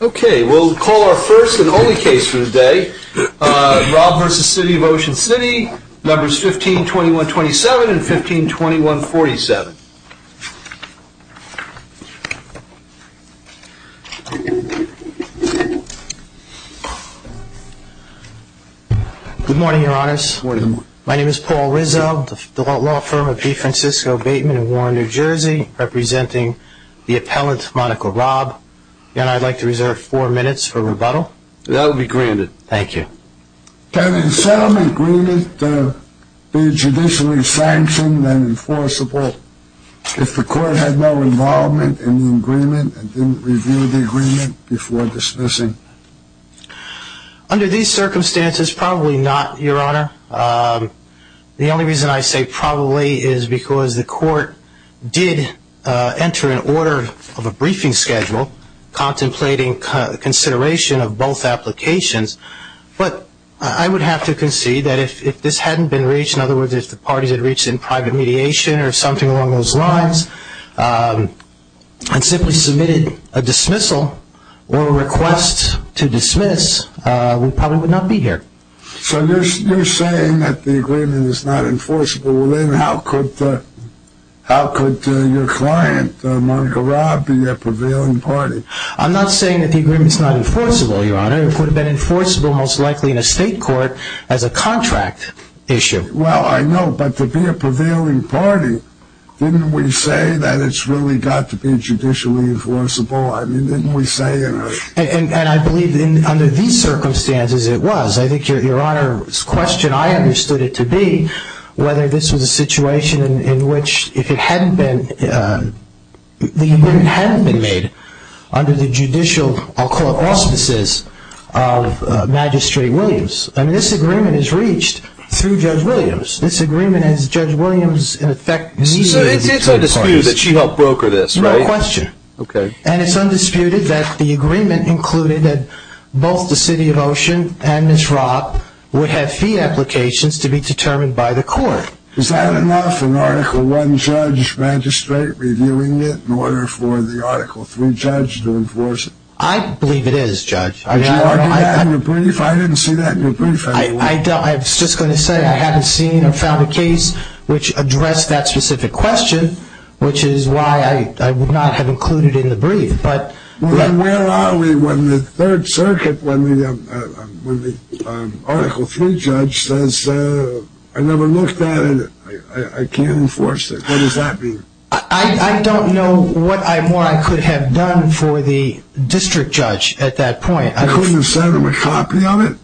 Okay, we'll call our first and only case for the day. Raab v. City of Ocean City, numbers 15-2127 and 15-2147. Good morning, your honors. Good morning. My name is Paul Rizzo, the law firm of B. Francisco Bateman in Warren, New Jersey, representing the appellant, Monica Raab. And I'd like to reserve four minutes for rebuttal. That will be granted. Thank you. Can a settlement agreement be judicially sanctioned and enforceable if the court had no involvement in the agreement and didn't review the agreement before dismissing? Under these circumstances, probably not, your honor. The only reason I say probably is because the court did enter an order of a briefing schedule contemplating consideration of both applications. But I would have to concede that if this hadn't been reached, in other words, if the parties had reached in private mediation or something along those lines and simply submitted a dismissal or a request to dismiss, we probably would not be here. So you're saying that the agreement is not enforceable. Well, then how could your client, Monica Raab, be a prevailing party? I'm not saying that the agreement is not enforceable, your honor. It would have been enforceable most likely in a state court as a contract issue. Well, I know, but to be a prevailing party, didn't we say that it's really got to be judicially enforceable? I mean, didn't we say it? And I believe under these circumstances it was. I think your honor's question, I understood it to be whether this was a situation in which if it hadn't been, the agreement hadn't been made under the judicial, I'll call it, auspices of Magistrate Williams. I mean, this agreement is reached through Judge Williams. This agreement is Judge Williams, in effect, meeting the two parties. So it's undisputed that she helped broker this, right? No question. Okay. And it's undisputed that the agreement included that both the city of Ocean and Ms. Raab would have fee applications to be determined by the court. Is that enough, an Article I judge magistrate reviewing it in order for the Article III judge to enforce it? I believe it is, Judge. Did you argue that in your brief? I didn't see that in your brief anyway. I was just going to say I haven't seen or found a case which addressed that specific question, which is why I would not have included it in the brief. But where are we when the Third Circuit, when the Article III judge says, I never looked at it, I can't enforce it. What does that mean? I don't know what more I could have done for the district judge at that point. You couldn't have sent him a copy of it?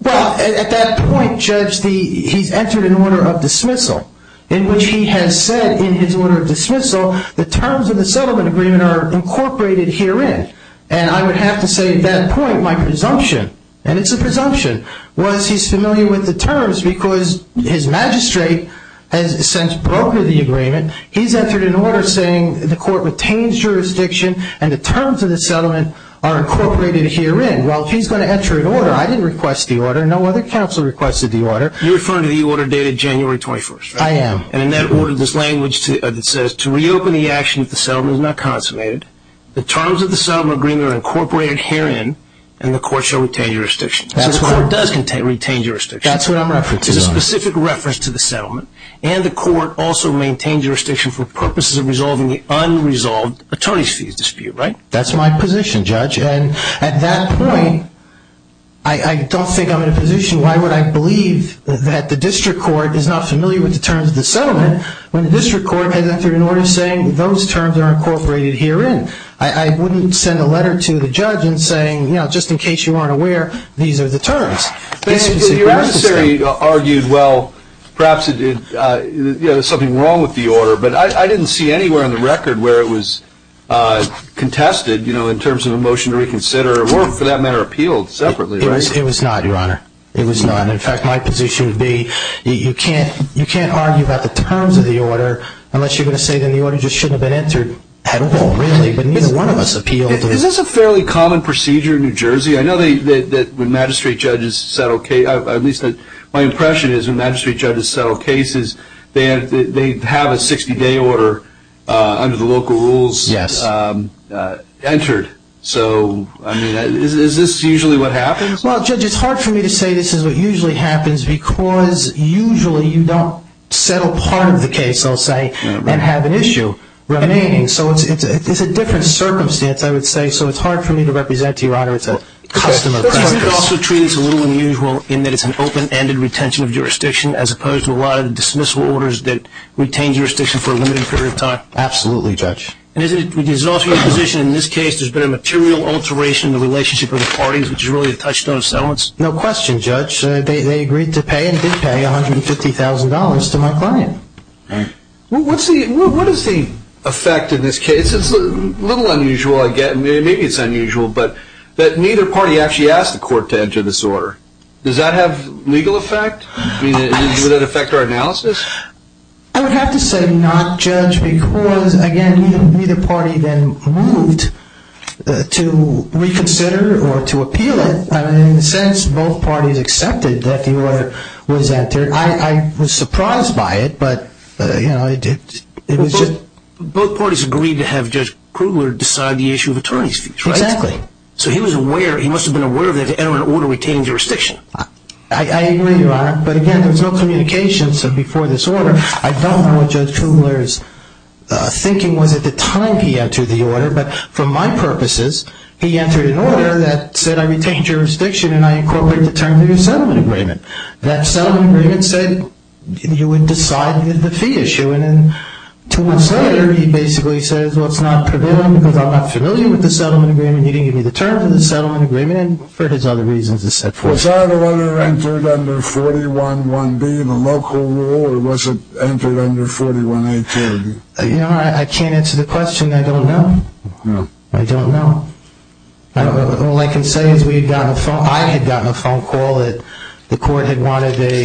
Well, at that point, Judge, he's entered an order of dismissal in which he has said in his order of dismissal the terms of the settlement agreement are incorporated herein. And I would have to say at that point my presumption, and it's a presumption, was he's familiar with the terms because his magistrate has since brokered the agreement. He's entered an order saying the court retains jurisdiction and the terms of the settlement are incorporated herein. And while he's going to enter an order, I didn't request the order. No other counsel requested the order. You're referring to the order dated January 21st, right? I am. And in that order there's language that says to reopen the action if the settlement is not consummated, the terms of the settlement agreement are incorporated herein, and the court shall retain jurisdiction. So the court does retain jurisdiction. That's what I'm referring to. It's a specific reference to the settlement, and the court also maintains jurisdiction for purposes of resolving the unresolved attorney's fees dispute, right? That's my position, Judge. And at that point I don't think I'm in a position, why would I believe that the district court is not familiar with the terms of the settlement when the district court has entered an order saying those terms are incorporated herein? I wouldn't send a letter to the judge and saying, you know, just in case you aren't aware, these are the terms. But your adversary argued, well, perhaps there's something wrong with the order, but I didn't see anywhere on the record where it was contested, you know, in terms of a motion to reconsider, or for that matter appealed separately, right? It was not, Your Honor. It was not. In fact, my position would be you can't argue about the terms of the order unless you're going to say then the order just shouldn't have been entered at all, really, but neither one of us appealed. Is this a fairly common procedure in New Jersey? I know that when magistrate judges settle cases, at least my impression is when magistrate judges settle cases, they have a 60-day order under the local rules entered. So, I mean, is this usually what happens? Well, Judge, it's hard for me to say this is what usually happens because usually you don't settle part of the case, I'll say, and have an issue remaining. So it's a different circumstance, I would say. So it's hard for me to represent to you, Your Honor, it's a custom of practice. Do you also treat this a little unusual in that it's an open-ended retention of jurisdiction as opposed to a lot of dismissal orders that retain jurisdiction for a limited period of time? Absolutely, Judge. And is it also your position in this case there's been a material alteration in the relationship of the parties, which is really a touchstone of settlements? No question, Judge. They agreed to pay and did pay $150,000 to my client. What is the effect in this case? It's a little unusual, maybe it's unusual, but neither party actually asked the court to enter this order. Does that have legal effect? Would that affect our analysis? I would have to say not, Judge, because, again, neither party then moved to reconsider or to appeal it. In a sense, both parties accepted that the order was entered. I was surprised by it, but, you know, it was just... Both parties agreed to have Judge Krugler decide the issue of attorney's fees, right? Exactly. So he was aware, he must have been aware that an order would retain jurisdiction. I agree, Your Honor, but, again, there was no communication before this order. I don't know what Judge Krugler's thinking was at the time he entered the order, but for my purposes he entered an order that said, I retain jurisdiction and I incorporate the terms of your settlement agreement. That settlement agreement said you would decide the fee issue, and then two months later he basically says, well, it's not prevailing because I'm not familiar with the settlement agreement, you didn't give me the terms of the settlement agreement, and for his other reasons it's set forth. Was that order entered under 411B, the local rule, or was it entered under 4183? Your Honor, I can't answer the question, I don't know. I don't know. All I can say is I had gotten a phone call that the court had wanted a...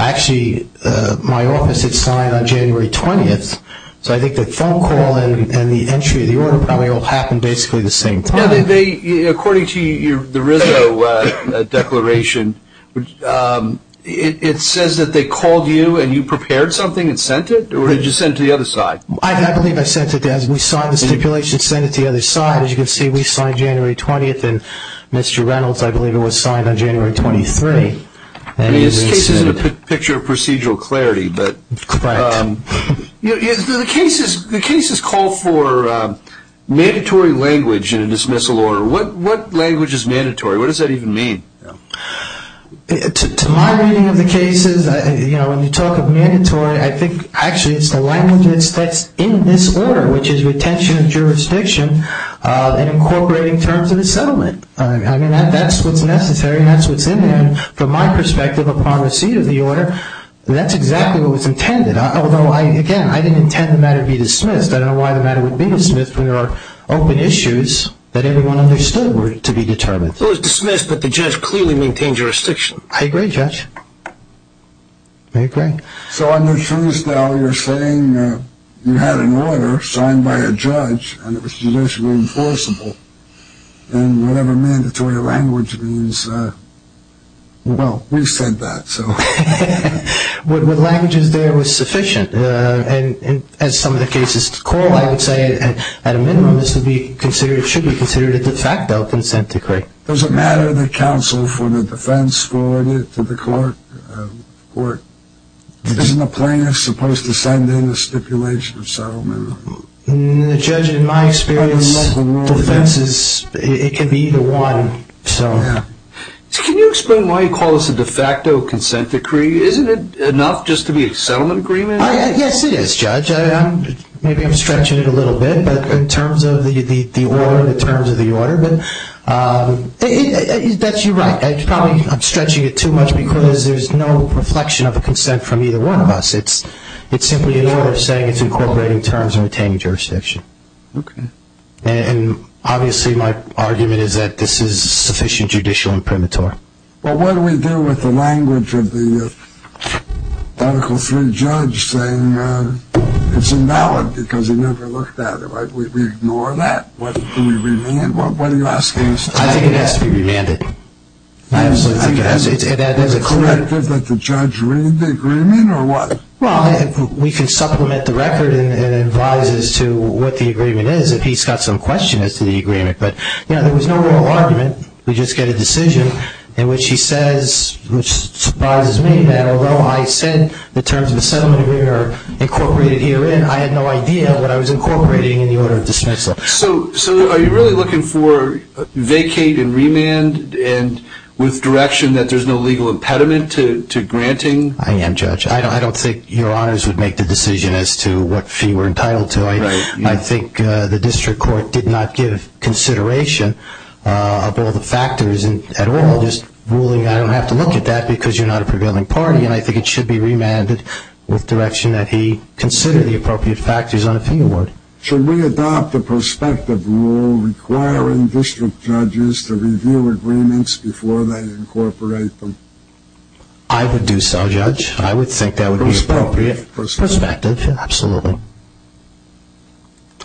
Actually, my office had signed on January 20th, so I think the phone call and the entry of the order probably all happened basically the same time. According to the Rizzo declaration, it says that they called you and you prepared something and sent it, or did you send it to the other side? I believe I sent it. We signed the stipulation and sent it to the other side. As you can see, we signed January 20th, and Mr. Reynolds, I believe, was signed on January 23. I mean, this case isn't a picture of procedural clarity, but... Correct. The cases call for mandatory language in a dismissal order. What language is mandatory? What does that even mean? To my reading of the cases, when you talk of mandatory, I think actually it's the language that's in this order, which is retention of jurisdiction and incorporating terms of the settlement. I mean, that's what's necessary and that's what's in there. From my perspective, upon receipt of the order, that's exactly what was intended. Although, again, I didn't intend the matter to be dismissed. I don't know why the matter would be dismissed when there are open issues that everyone understood were to be determined. It was dismissed, but the judge clearly maintained jurisdiction. I agree, Judge. I agree. So I'm not sure as to how you're saying you had an order signed by a judge and it was judicially enforceable in whatever mandatory language means. Well, we said that, so... What language is there was sufficient. As some of the cases call, I would say, at a minimum, this should be considered a de facto consent decree. Does it matter that counsel for the defense scored it to the court? Isn't a plaintiff supposed to send in a stipulation of settlement? The judge, in my experience, defenses, it can be either one, so... Can you explain why you call this a de facto consent decree? Isn't it enough just to be a settlement agreement? Yes, it is, Judge. Maybe I'm stretching it a little bit, but in terms of the order, the terms of the order, but that's you're right. I'm stretching it too much because there's no reflection of a consent from either one of us. It's simply an order saying it's incorporating terms and retaining jurisdiction. Okay. And, obviously, my argument is that this is sufficient judicial imprimatur. Well, what do we do with the language of the Article III judge saying it's invalid because he never looked at it, right? We ignore that. What do we remand? What are you asking us to do? I think it has to be remanded. I absolutely think it has to be. Is it correct that the judge read the agreement or what? Well, we can supplement the record and advise as to what the agreement is if he's got some question as to the agreement. But, you know, there was no real argument. We just get a decision in which he says, which surprises me, that although I said the terms of the settlement agreement are incorporated herein, I had no idea what I was incorporating in the order of dismissal. So are you really looking for vacate and remand and with direction that there's no legal impediment to granting? I am, Judge. I don't think your honors would make the decision as to what fee we're entitled to. I think the district court did not give consideration of all the factors at all, just ruling I don't have to look at that because you're not a prevailing party. And I think it should be remanded with direction that he consider the appropriate factors on a fee award. Should we adopt a prospective rule requiring district judges to review agreements before they incorporate them? I would do so, Judge. I would think that would be appropriate. Prospective. Prospective, absolutely.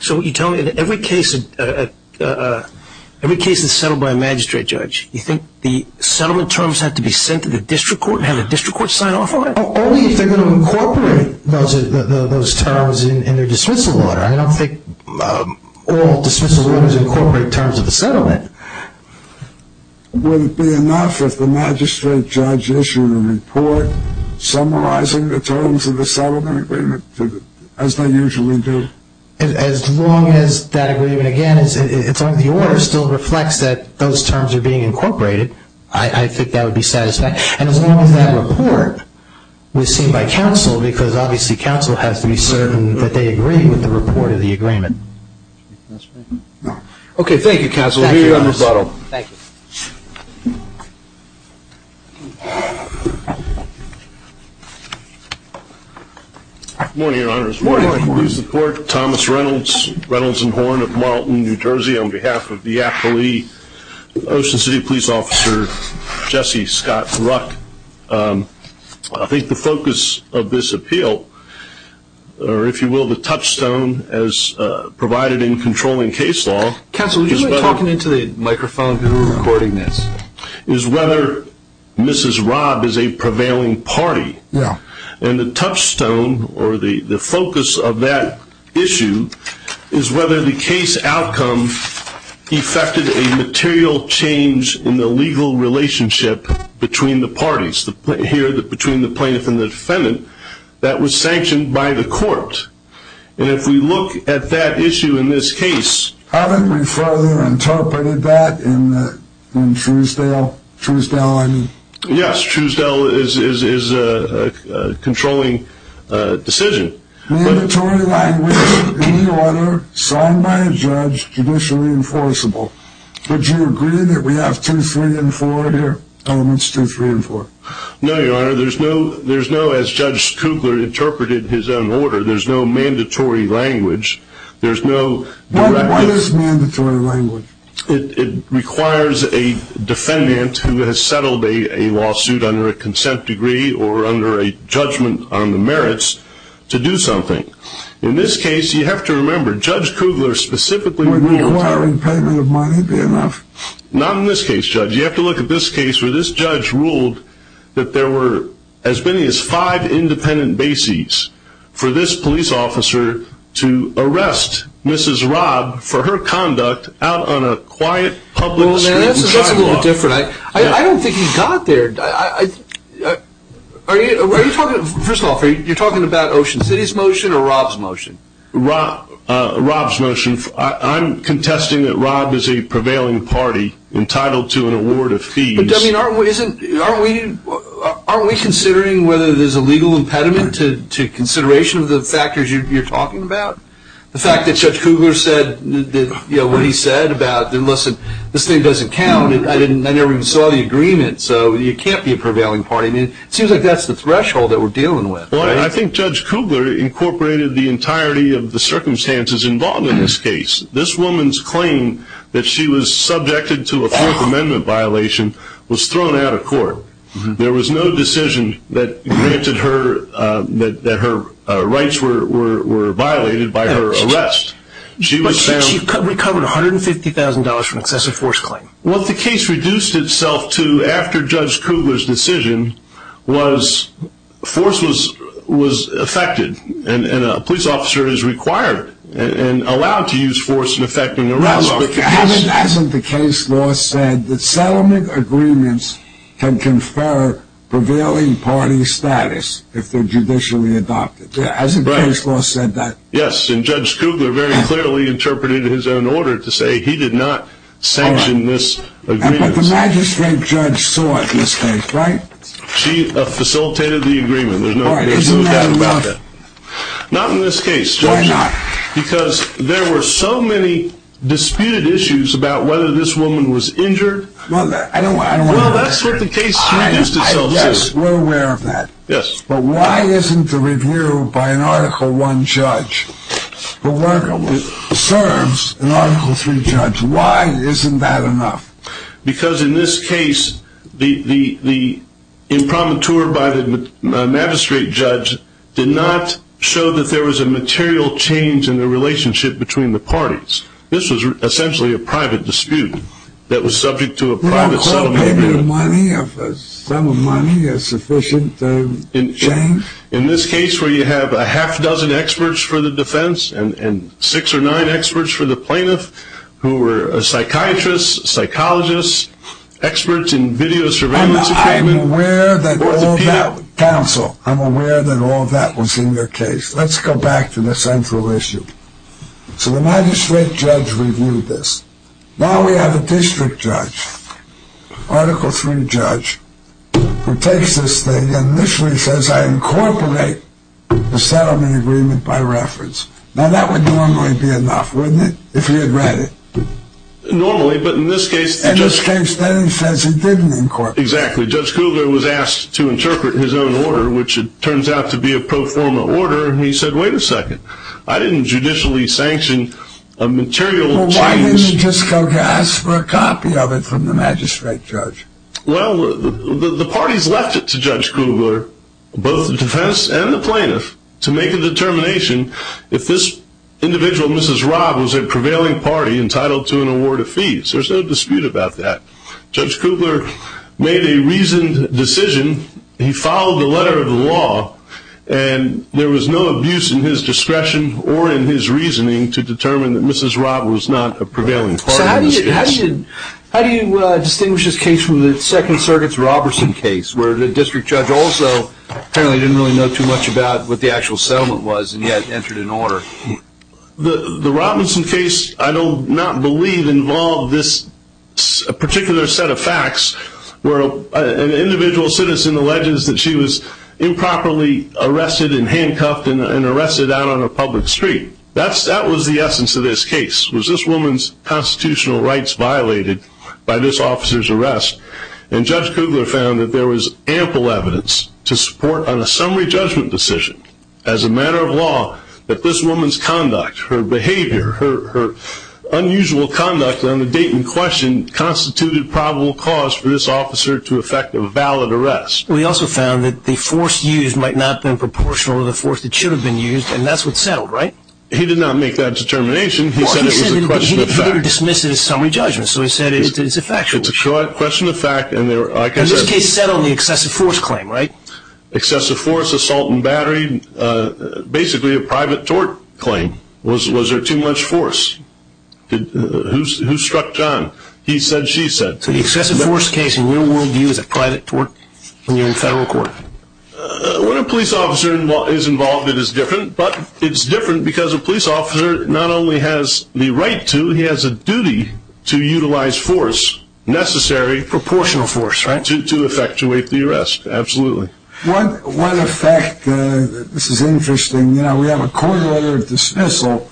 So you're telling me that every case is settled by a magistrate judge. You think the settlement terms have to be sent to the district court and have the district court sign off on it? Only if they're going to incorporate those terms in their dismissal order. I don't think all dismissal orders incorporate terms of the settlement. Would it be enough if the magistrate judge issued a report summarizing the terms of the settlement agreement as they usually do? As long as that agreement, again, it's on the order, still reflects that those terms are being incorporated, I think that would be satisfactory. And as long as that report was seen by counsel, because obviously counsel has to be certain that they agree with the report of the agreement. Okay, thank you, counsel. We'll leave it on this model. Thank you. Good morning, Your Honors. Good morning. We support Thomas Reynolds, Reynolds and Horn of Marlton, New Jersey, on behalf of the appellee, Ocean City Police Officer Jesse Scott Ruck. I think the focus of this appeal, or if you will, the touchstone, as provided in controlling case law is whether Mrs. Robb is a prevailing party. And the touchstone or the focus of that issue is whether the case outcome effected a material change in the legal relationship between the parties, here between the plaintiff and the defendant, that was sanctioned by the court. And if we look at that issue in this case. Haven't we further interpreted that in Truesdale? Truesdale, I mean. Yes, Truesdale is a controlling decision. Mandatory language, any order, signed by a judge, judicially enforceable. Would you agree that we have two, three, and four here? Elements two, three, and four. No, Your Honor. There's no, as Judge Kugler interpreted his own order, there's no mandatory language. There's no direct. What is mandatory language? It requires a defendant who has settled a lawsuit under a consent degree or under a judgment on the merits to do something. In this case, you have to remember, Judge Kugler specifically ruled. Requiring payment of money would be enough. Not in this case, Judge. You have to look at this case where this judge ruled that there were as many as five independent bases for this police officer to arrest Mrs. Robb for her conduct out on a quiet public street. Well, that's a little different. I don't think he got there. Are you talking, first of all, are you talking about Ocean City's motion or Robb's motion? Robb's motion. I'm contesting that Robb is a prevailing party entitled to an award of fees. Aren't we considering whether there's a legal impediment to consideration of the factors you're talking about? The fact that Judge Kugler said what he said about, listen, this thing doesn't count. I never even saw the agreement, so it can't be a prevailing party. It seems like that's the threshold that we're dealing with. Well, I think Judge Kugler incorporated the entirety of the circumstances involved in this case. This woman's claim that she was subjected to a Fourth Amendment violation was thrown out of court. There was no decision that granted her that her rights were violated by her arrest. But she recovered $150,000 from an excessive force claim. What the case reduced itself to after Judge Kugler's decision was force was affected, and a police officer is required and allowed to use force in effecting an arrest. Hasn't the case law said that settlement agreements can confer prevailing party status if they're judicially adopted? Hasn't case law said that? Yes, and Judge Kugler very clearly interpreted his own order to say he did not sanction this agreement. But the magistrate judge saw it, right? She facilitated the agreement. Isn't that enough? Not in this case, Judge. Why not? Because there were so many disputed issues about whether this woman was injured. Well, that's what the case reduced itself to. We're aware of that. Yes. But why isn't the review by an Article I judge that serves an Article III judge, why isn't that enough? Because in this case, the impromptu by the magistrate judge did not show that there was a material change in the relationship between the parties. This was essentially a private dispute that was subject to a private settlement agreement. You don't call paper money or sum of money a sufficient change? In this case where you have a half dozen experts for the defense and six or nine experts for the plaintiff, who were psychiatrists, psychologists, experts in video surveillance equipment. I'm aware that all that was in your case. Let's go back to the central issue. So the magistrate judge reviewed this. Now we have a district judge, Article III judge, who takes this thing and initially says, I incorporate the settlement agreement by reference. Now that would normally be enough, wouldn't it, if he had read it? Normally, but in this case... In this case, then he says he didn't incorporate it. Exactly. Judge Kugler was asked to interpret his own order, which it turns out to be a pro forma order, and he said, wait a second, I didn't judicially sanction a material change... Well, why didn't he just go ask for a copy of it from the magistrate judge? Well, the parties left it to Judge Kugler, both the defense and the plaintiff, to make a determination if this individual, Mrs. Robb, was a prevailing party entitled to an award of fees. There's no dispute about that. Judge Kugler made a reasoned decision. He followed the letter of the law, and there was no abuse in his discretion or in his reasoning to determine that Mrs. Robb was not a prevailing party in this case. How do you distinguish this case from the Second Circuit's Roberson case, where the district judge also apparently didn't really know too much about what the actual settlement was, and yet entered an order? The Roberson case, I do not believe, involved this particular set of facts, where an individual citizen alleges that she was improperly arrested and handcuffed and arrested out on a public street. That was the essence of this case, was this woman's constitutional rights violated by this officer's arrest, and Judge Kugler found that there was ample evidence to support on a summary judgment decision, as a matter of law, that this woman's conduct, her behavior, her unusual conduct on the date in question, constituted probable cause for this officer to effect a valid arrest. We also found that the force used might not have been proportional to the force that should have been used, and that's what settled, right? He did not make that determination. He said it was a question of fact. He didn't dismiss it as summary judgment, so he said it's a factual issue. It's a question of fact. And this case settled on the excessive force claim, right? Excessive force, assault and battery, basically a private tort claim. Was there too much force? Who struck John? He said, she said. So the excessive force case, in your world view, is a private tort when you're in federal court? When a police officer is involved, it is different, but it's different because a police officer not only has the right to, he has a duty to utilize force, necessary. Proportional force, right? To effectuate the arrest, absolutely. What effect, this is interesting, you know, we have a court order of dismissal,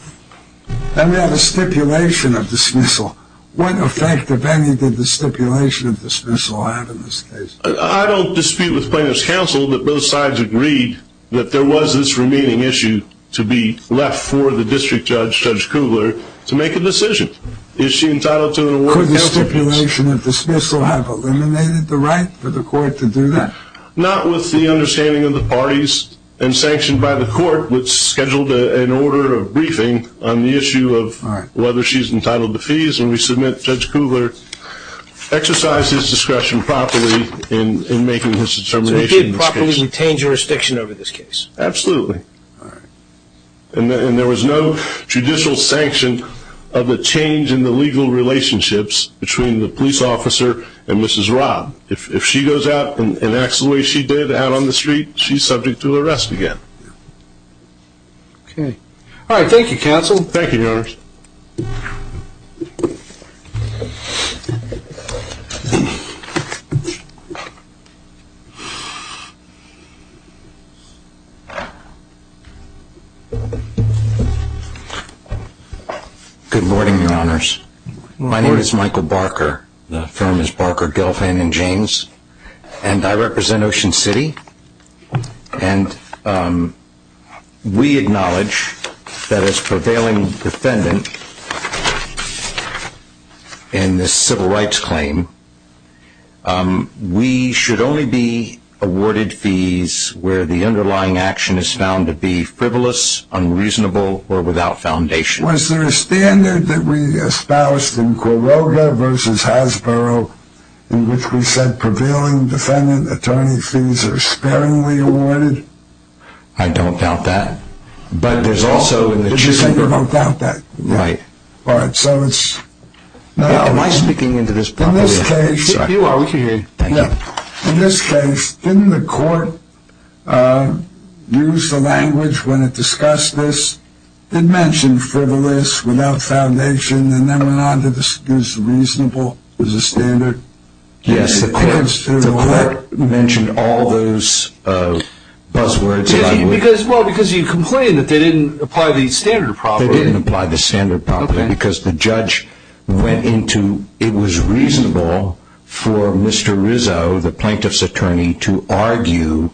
and we have a stipulation of dismissal. What effect, if any, did the stipulation of dismissal have in this case? I don't dispute with plaintiff's counsel that both sides agreed that there was this remaining issue to be left for the district judge, Judge Kugler, to make a decision. Is she entitled to an award? Could the stipulation of dismissal have eliminated the right for the court to do that? Not with the understanding of the parties and sanctioned by the court, which scheduled an order of briefing on the issue of whether she's entitled to fees, and we submit Judge Kugler exercised his discretion properly in making his determination. So he did properly retain jurisdiction over this case? Absolutely. All right. And there was no judicial sanction of the change in the legal relationships between the police officer and Mrs. Robb. If she goes out and acts the way she did out on the street, she's subject to arrest again. Okay. All right, thank you, counsel. Thank you, Your Honors. Thank you. Good morning, Your Honors. My name is Michael Barker. The firm is Barker, Gelfand, and James, and I represent Ocean City. And we acknowledge that as prevailing defendant in this civil rights claim, we should only be awarded fees where the underlying action is found to be frivolous, unreasonable, or without foundation. Was there a standard that we espoused in Quiroga v. Hasbro in which we said prevailing defendant attorney fees are sparingly awarded? I don't doubt that. But there's also in the chapter. But you say you don't doubt that. Right. All right. Am I speaking into this properly? You are. We can hear you. Thank you. In this case, didn't the court use the language when it discussed this, that mentioned frivolous, without foundation, and then went on to discuss reasonable as a standard? Yes, the court mentioned all those buzzwords. Well, because you complained that they didn't apply the standard properly. They didn't apply the standard properly because the judge went into it was reasonable for Mr. Rizzo, the plaintiff's attorney, to argue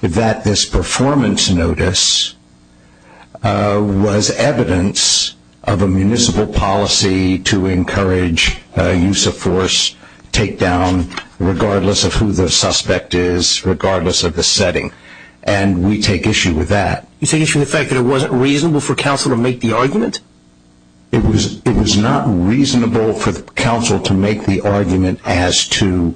that this performance notice was evidence of a municipal policy to encourage use of force, takedown, regardless of who the suspect is, regardless of the setting. And we take issue with that. You take issue with the fact that it wasn't reasonable for counsel to make the argument? It was not reasonable for counsel to make the argument as to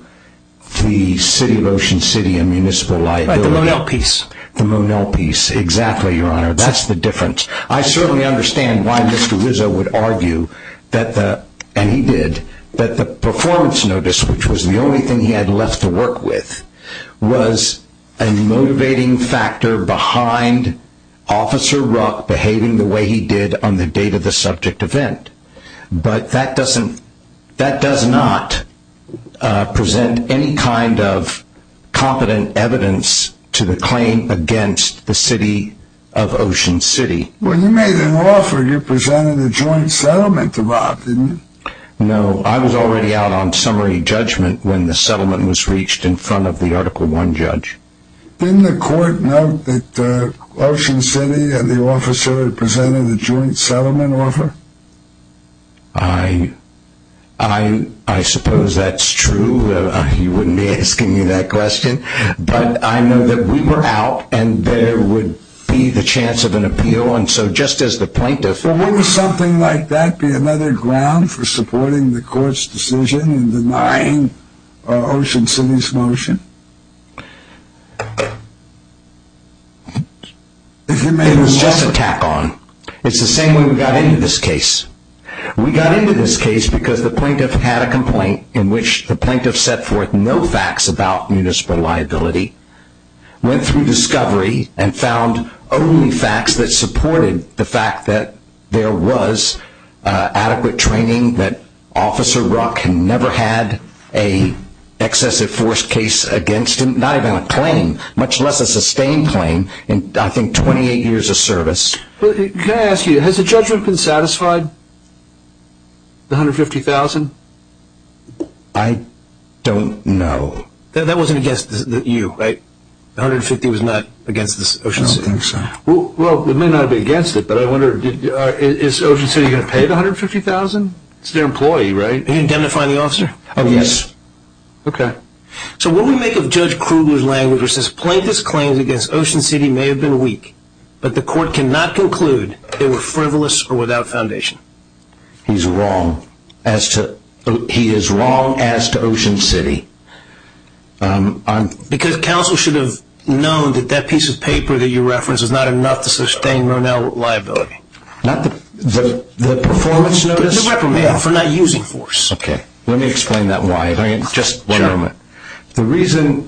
the City of Ocean City and municipal liability. Right, the Monell piece. The Monell piece, exactly, Your Honor. That's the difference. I certainly understand why Mr. Rizzo would argue, and he did, that the performance notice, which was the only thing he had left to work with, was a motivating factor behind Officer Ruck behaving the way he did on the date of the subject event. But that does not present any kind of competent evidence to the claim against the City of Ocean City. When you made an offer, you presented a joint settlement to Bob, didn't you? No, I was already out on summary judgment when the settlement was reached in front of the Article I judge. Didn't the court note that Ocean City and the officer presented a joint settlement offer? I suppose that's true. He wouldn't be asking you that question. But I know that we were out, and there would be the chance of an appeal. And so just as the plaintiff. But wouldn't something like that be another ground for supporting the court's decision in denying Ocean City's motion? It was just a tack-on. It's the same way we got into this case. We got into this case because the plaintiff had a complaint in which the plaintiff set forth no facts about municipal liability, went through discovery, and found only facts that supported the fact that there was adequate training that Officer Rock had never had an excessive force case against him, not even a claim, much less a sustained claim in, I think, 28 years of service. Can I ask you, has the judgment been satisfied? The $150,000? I don't know. That wasn't against you, right? The $150,000 was not against Ocean City? I don't think so. Well, it may not have been against it, but I wonder, is Ocean City going to pay the $150,000? It's their employee, right? Are you indemnifying the officer? Yes. Okay. So what do we make of Judge Kruger's language which says, Plaintiff's claims against Ocean City may have been weak, but the court cannot conclude they were frivolous or without foundation? He's wrong. He is wrong as to Ocean City. Because counsel should have known that that piece of paper that you referenced is not enough to sustain Ronell liability. The performance notice for not using force. Okay. Let me explain that why. Just one moment. The reason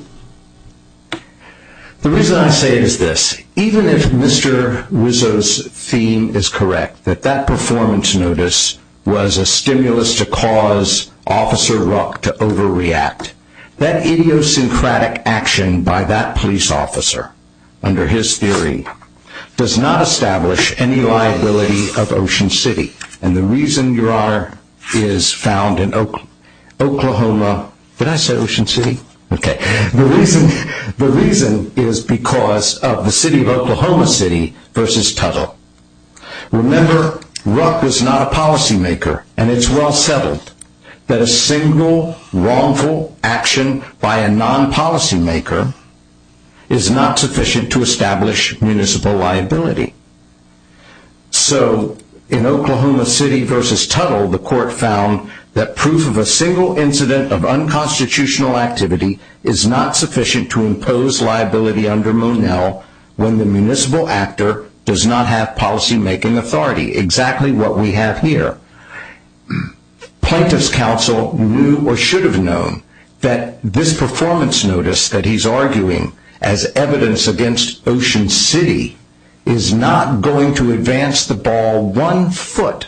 I say it is this. Even if Mr. Wiseau's theme is correct, that that performance notice was a stimulus to cause Officer Ruck to overreact, that idiosyncratic action by that police officer, under his theory, does not establish any liability of Ocean City. And the reason, Your Honor, is found in Oklahoma. Did I say Ocean City? Okay. The reason is because of the city of Oklahoma City versus Tuttle. Remember, Ruck was not a policymaker, and it's well settled that a single wrongful action by a non-policymaker is not sufficient to establish municipal liability. So in Oklahoma City versus Tuttle, the court found that proof of a single incident of unconstitutional activity is not sufficient to impose liability under Ronell when the municipal actor does not have policymaking authority, exactly what we have here. Plaintiff's counsel knew or should have known that this performance notice that he's arguing as evidence against Ocean City is not going to advance the ball one foot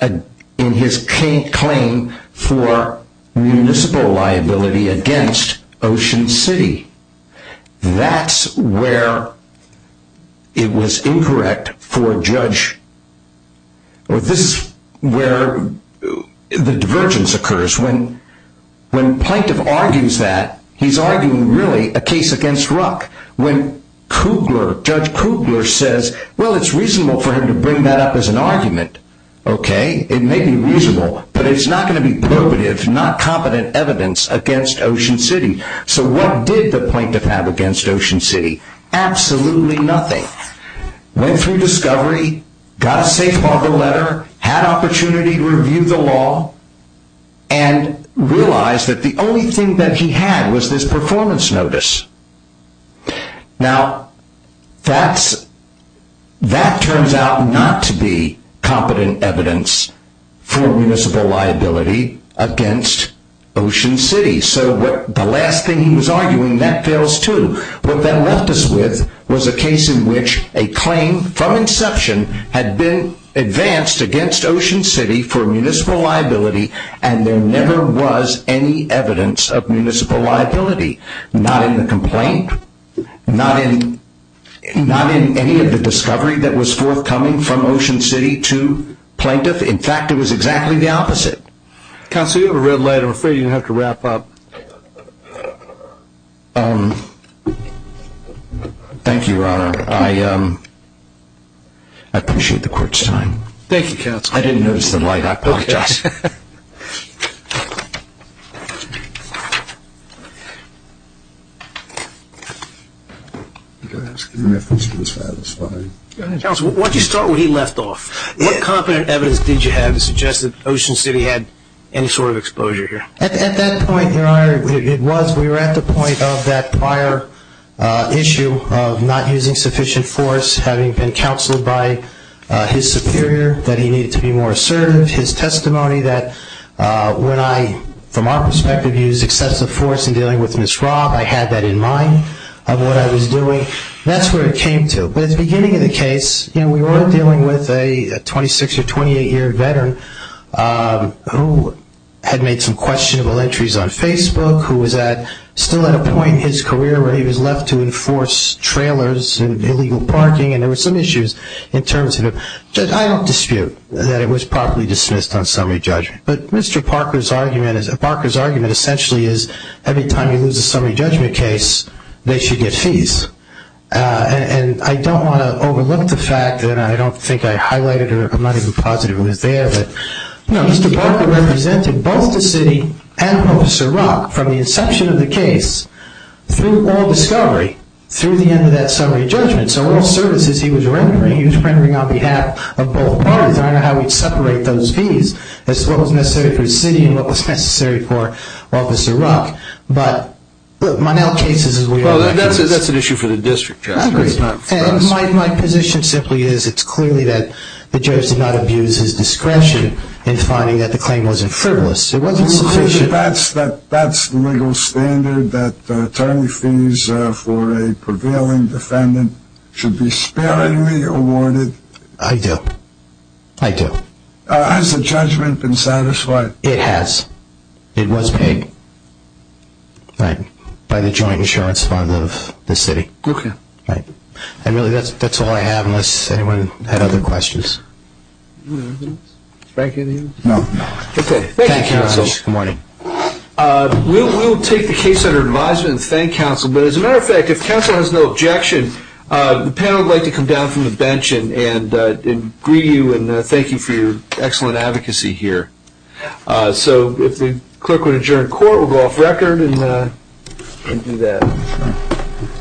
in his claim for municipal liability against Ocean City. That's where it was incorrect for Judge... This is where the divergence occurs. When Plaintiff argues that, he's arguing, really, a case against Ruck. When Judge Kugler says, well, it's reasonable for him to bring that up as an argument, okay, it may be reasonable, but it's not going to be probative, not competent evidence against Ocean City. So what did the plaintiff have against Ocean City? Absolutely nothing. Went through discovery, got a safe harbor letter, had opportunity to review the law, and realized that the only thing that he had was this performance notice. Now, that turns out not to be competent evidence for municipal liability against Ocean City. So the last thing he was arguing, that fails too. What that left us with was a case in which a claim from inception had been advanced against Ocean City for municipal liability, and there never was any evidence of municipal liability. Not in the complaint, not in any of the discovery that was forthcoming from Ocean City to Plaintiff. In fact, it was exactly the opposite. Counsel, you have a red light. I'm afraid you're going to have to wrap up. Thank you, Your Honor. I appreciate the court's time. Thank you, Counsel. I didn't notice the light. I apologize. Counsel, why don't you start where he left off? What competent evidence did you have to suggest that Ocean City had any sort of exposure here? At that point, Your Honor, it was. We were at the point of that prior issue of not using sufficient force, having been counseled by his superior that he needed to be more assertive. His testimony that when I, from our perspective, used excessive force in dealing with Ms. Robb, I had that in mind of what I was doing. That's where it came to. But at the beginning of the case, we were dealing with a 26- or 28-year veteran who had made some questionable entries on Facebook, who was still at a point in his career where he was left to enforce trailers and illegal parking, and there were some issues in terms of it. Judge, I don't dispute that it was properly dismissed on summary judgment. But Mr. Parker's argument essentially is every time you lose a summary judgment case, they should get fees. And I don't want to overlook the fact, and I don't think I highlighted it, I'm not even positive it was there, but Mr. Parker represented both the city and Officer Rock from the inception of the case through all discovery through the end of that summary judgment. So all services he was rendering, he was rendering on behalf of both parties. I don't know how he'd separate those fees as to what was necessary for the city and what was necessary for Officer Rock. But Monell cases is where he was. Well, that's an issue for the district, Judge. It's not for us. My position simply is it's clearly that the judge did not abuse his discretion in finding that the claim wasn't frivolous. It wasn't sufficient. So that's the legal standard that attorney fees for a prevailing defendant should be sparingly awarded? I do. I do. Has the judgment been satisfied? It has. It was paid by the joint insurance fund of the city. Okay. Right. And really that's all I have unless anyone had other questions. Frank, anything else? No. Okay. Thank you, counsel. Good morning. We'll take the case under advisement and thank counsel. But as a matter of fact, if counsel has no objection, the panel would like to come down from the bench and greet you and thank you for your excellent advocacy here. So if the clerk would adjourn court, we'll go off record and do that.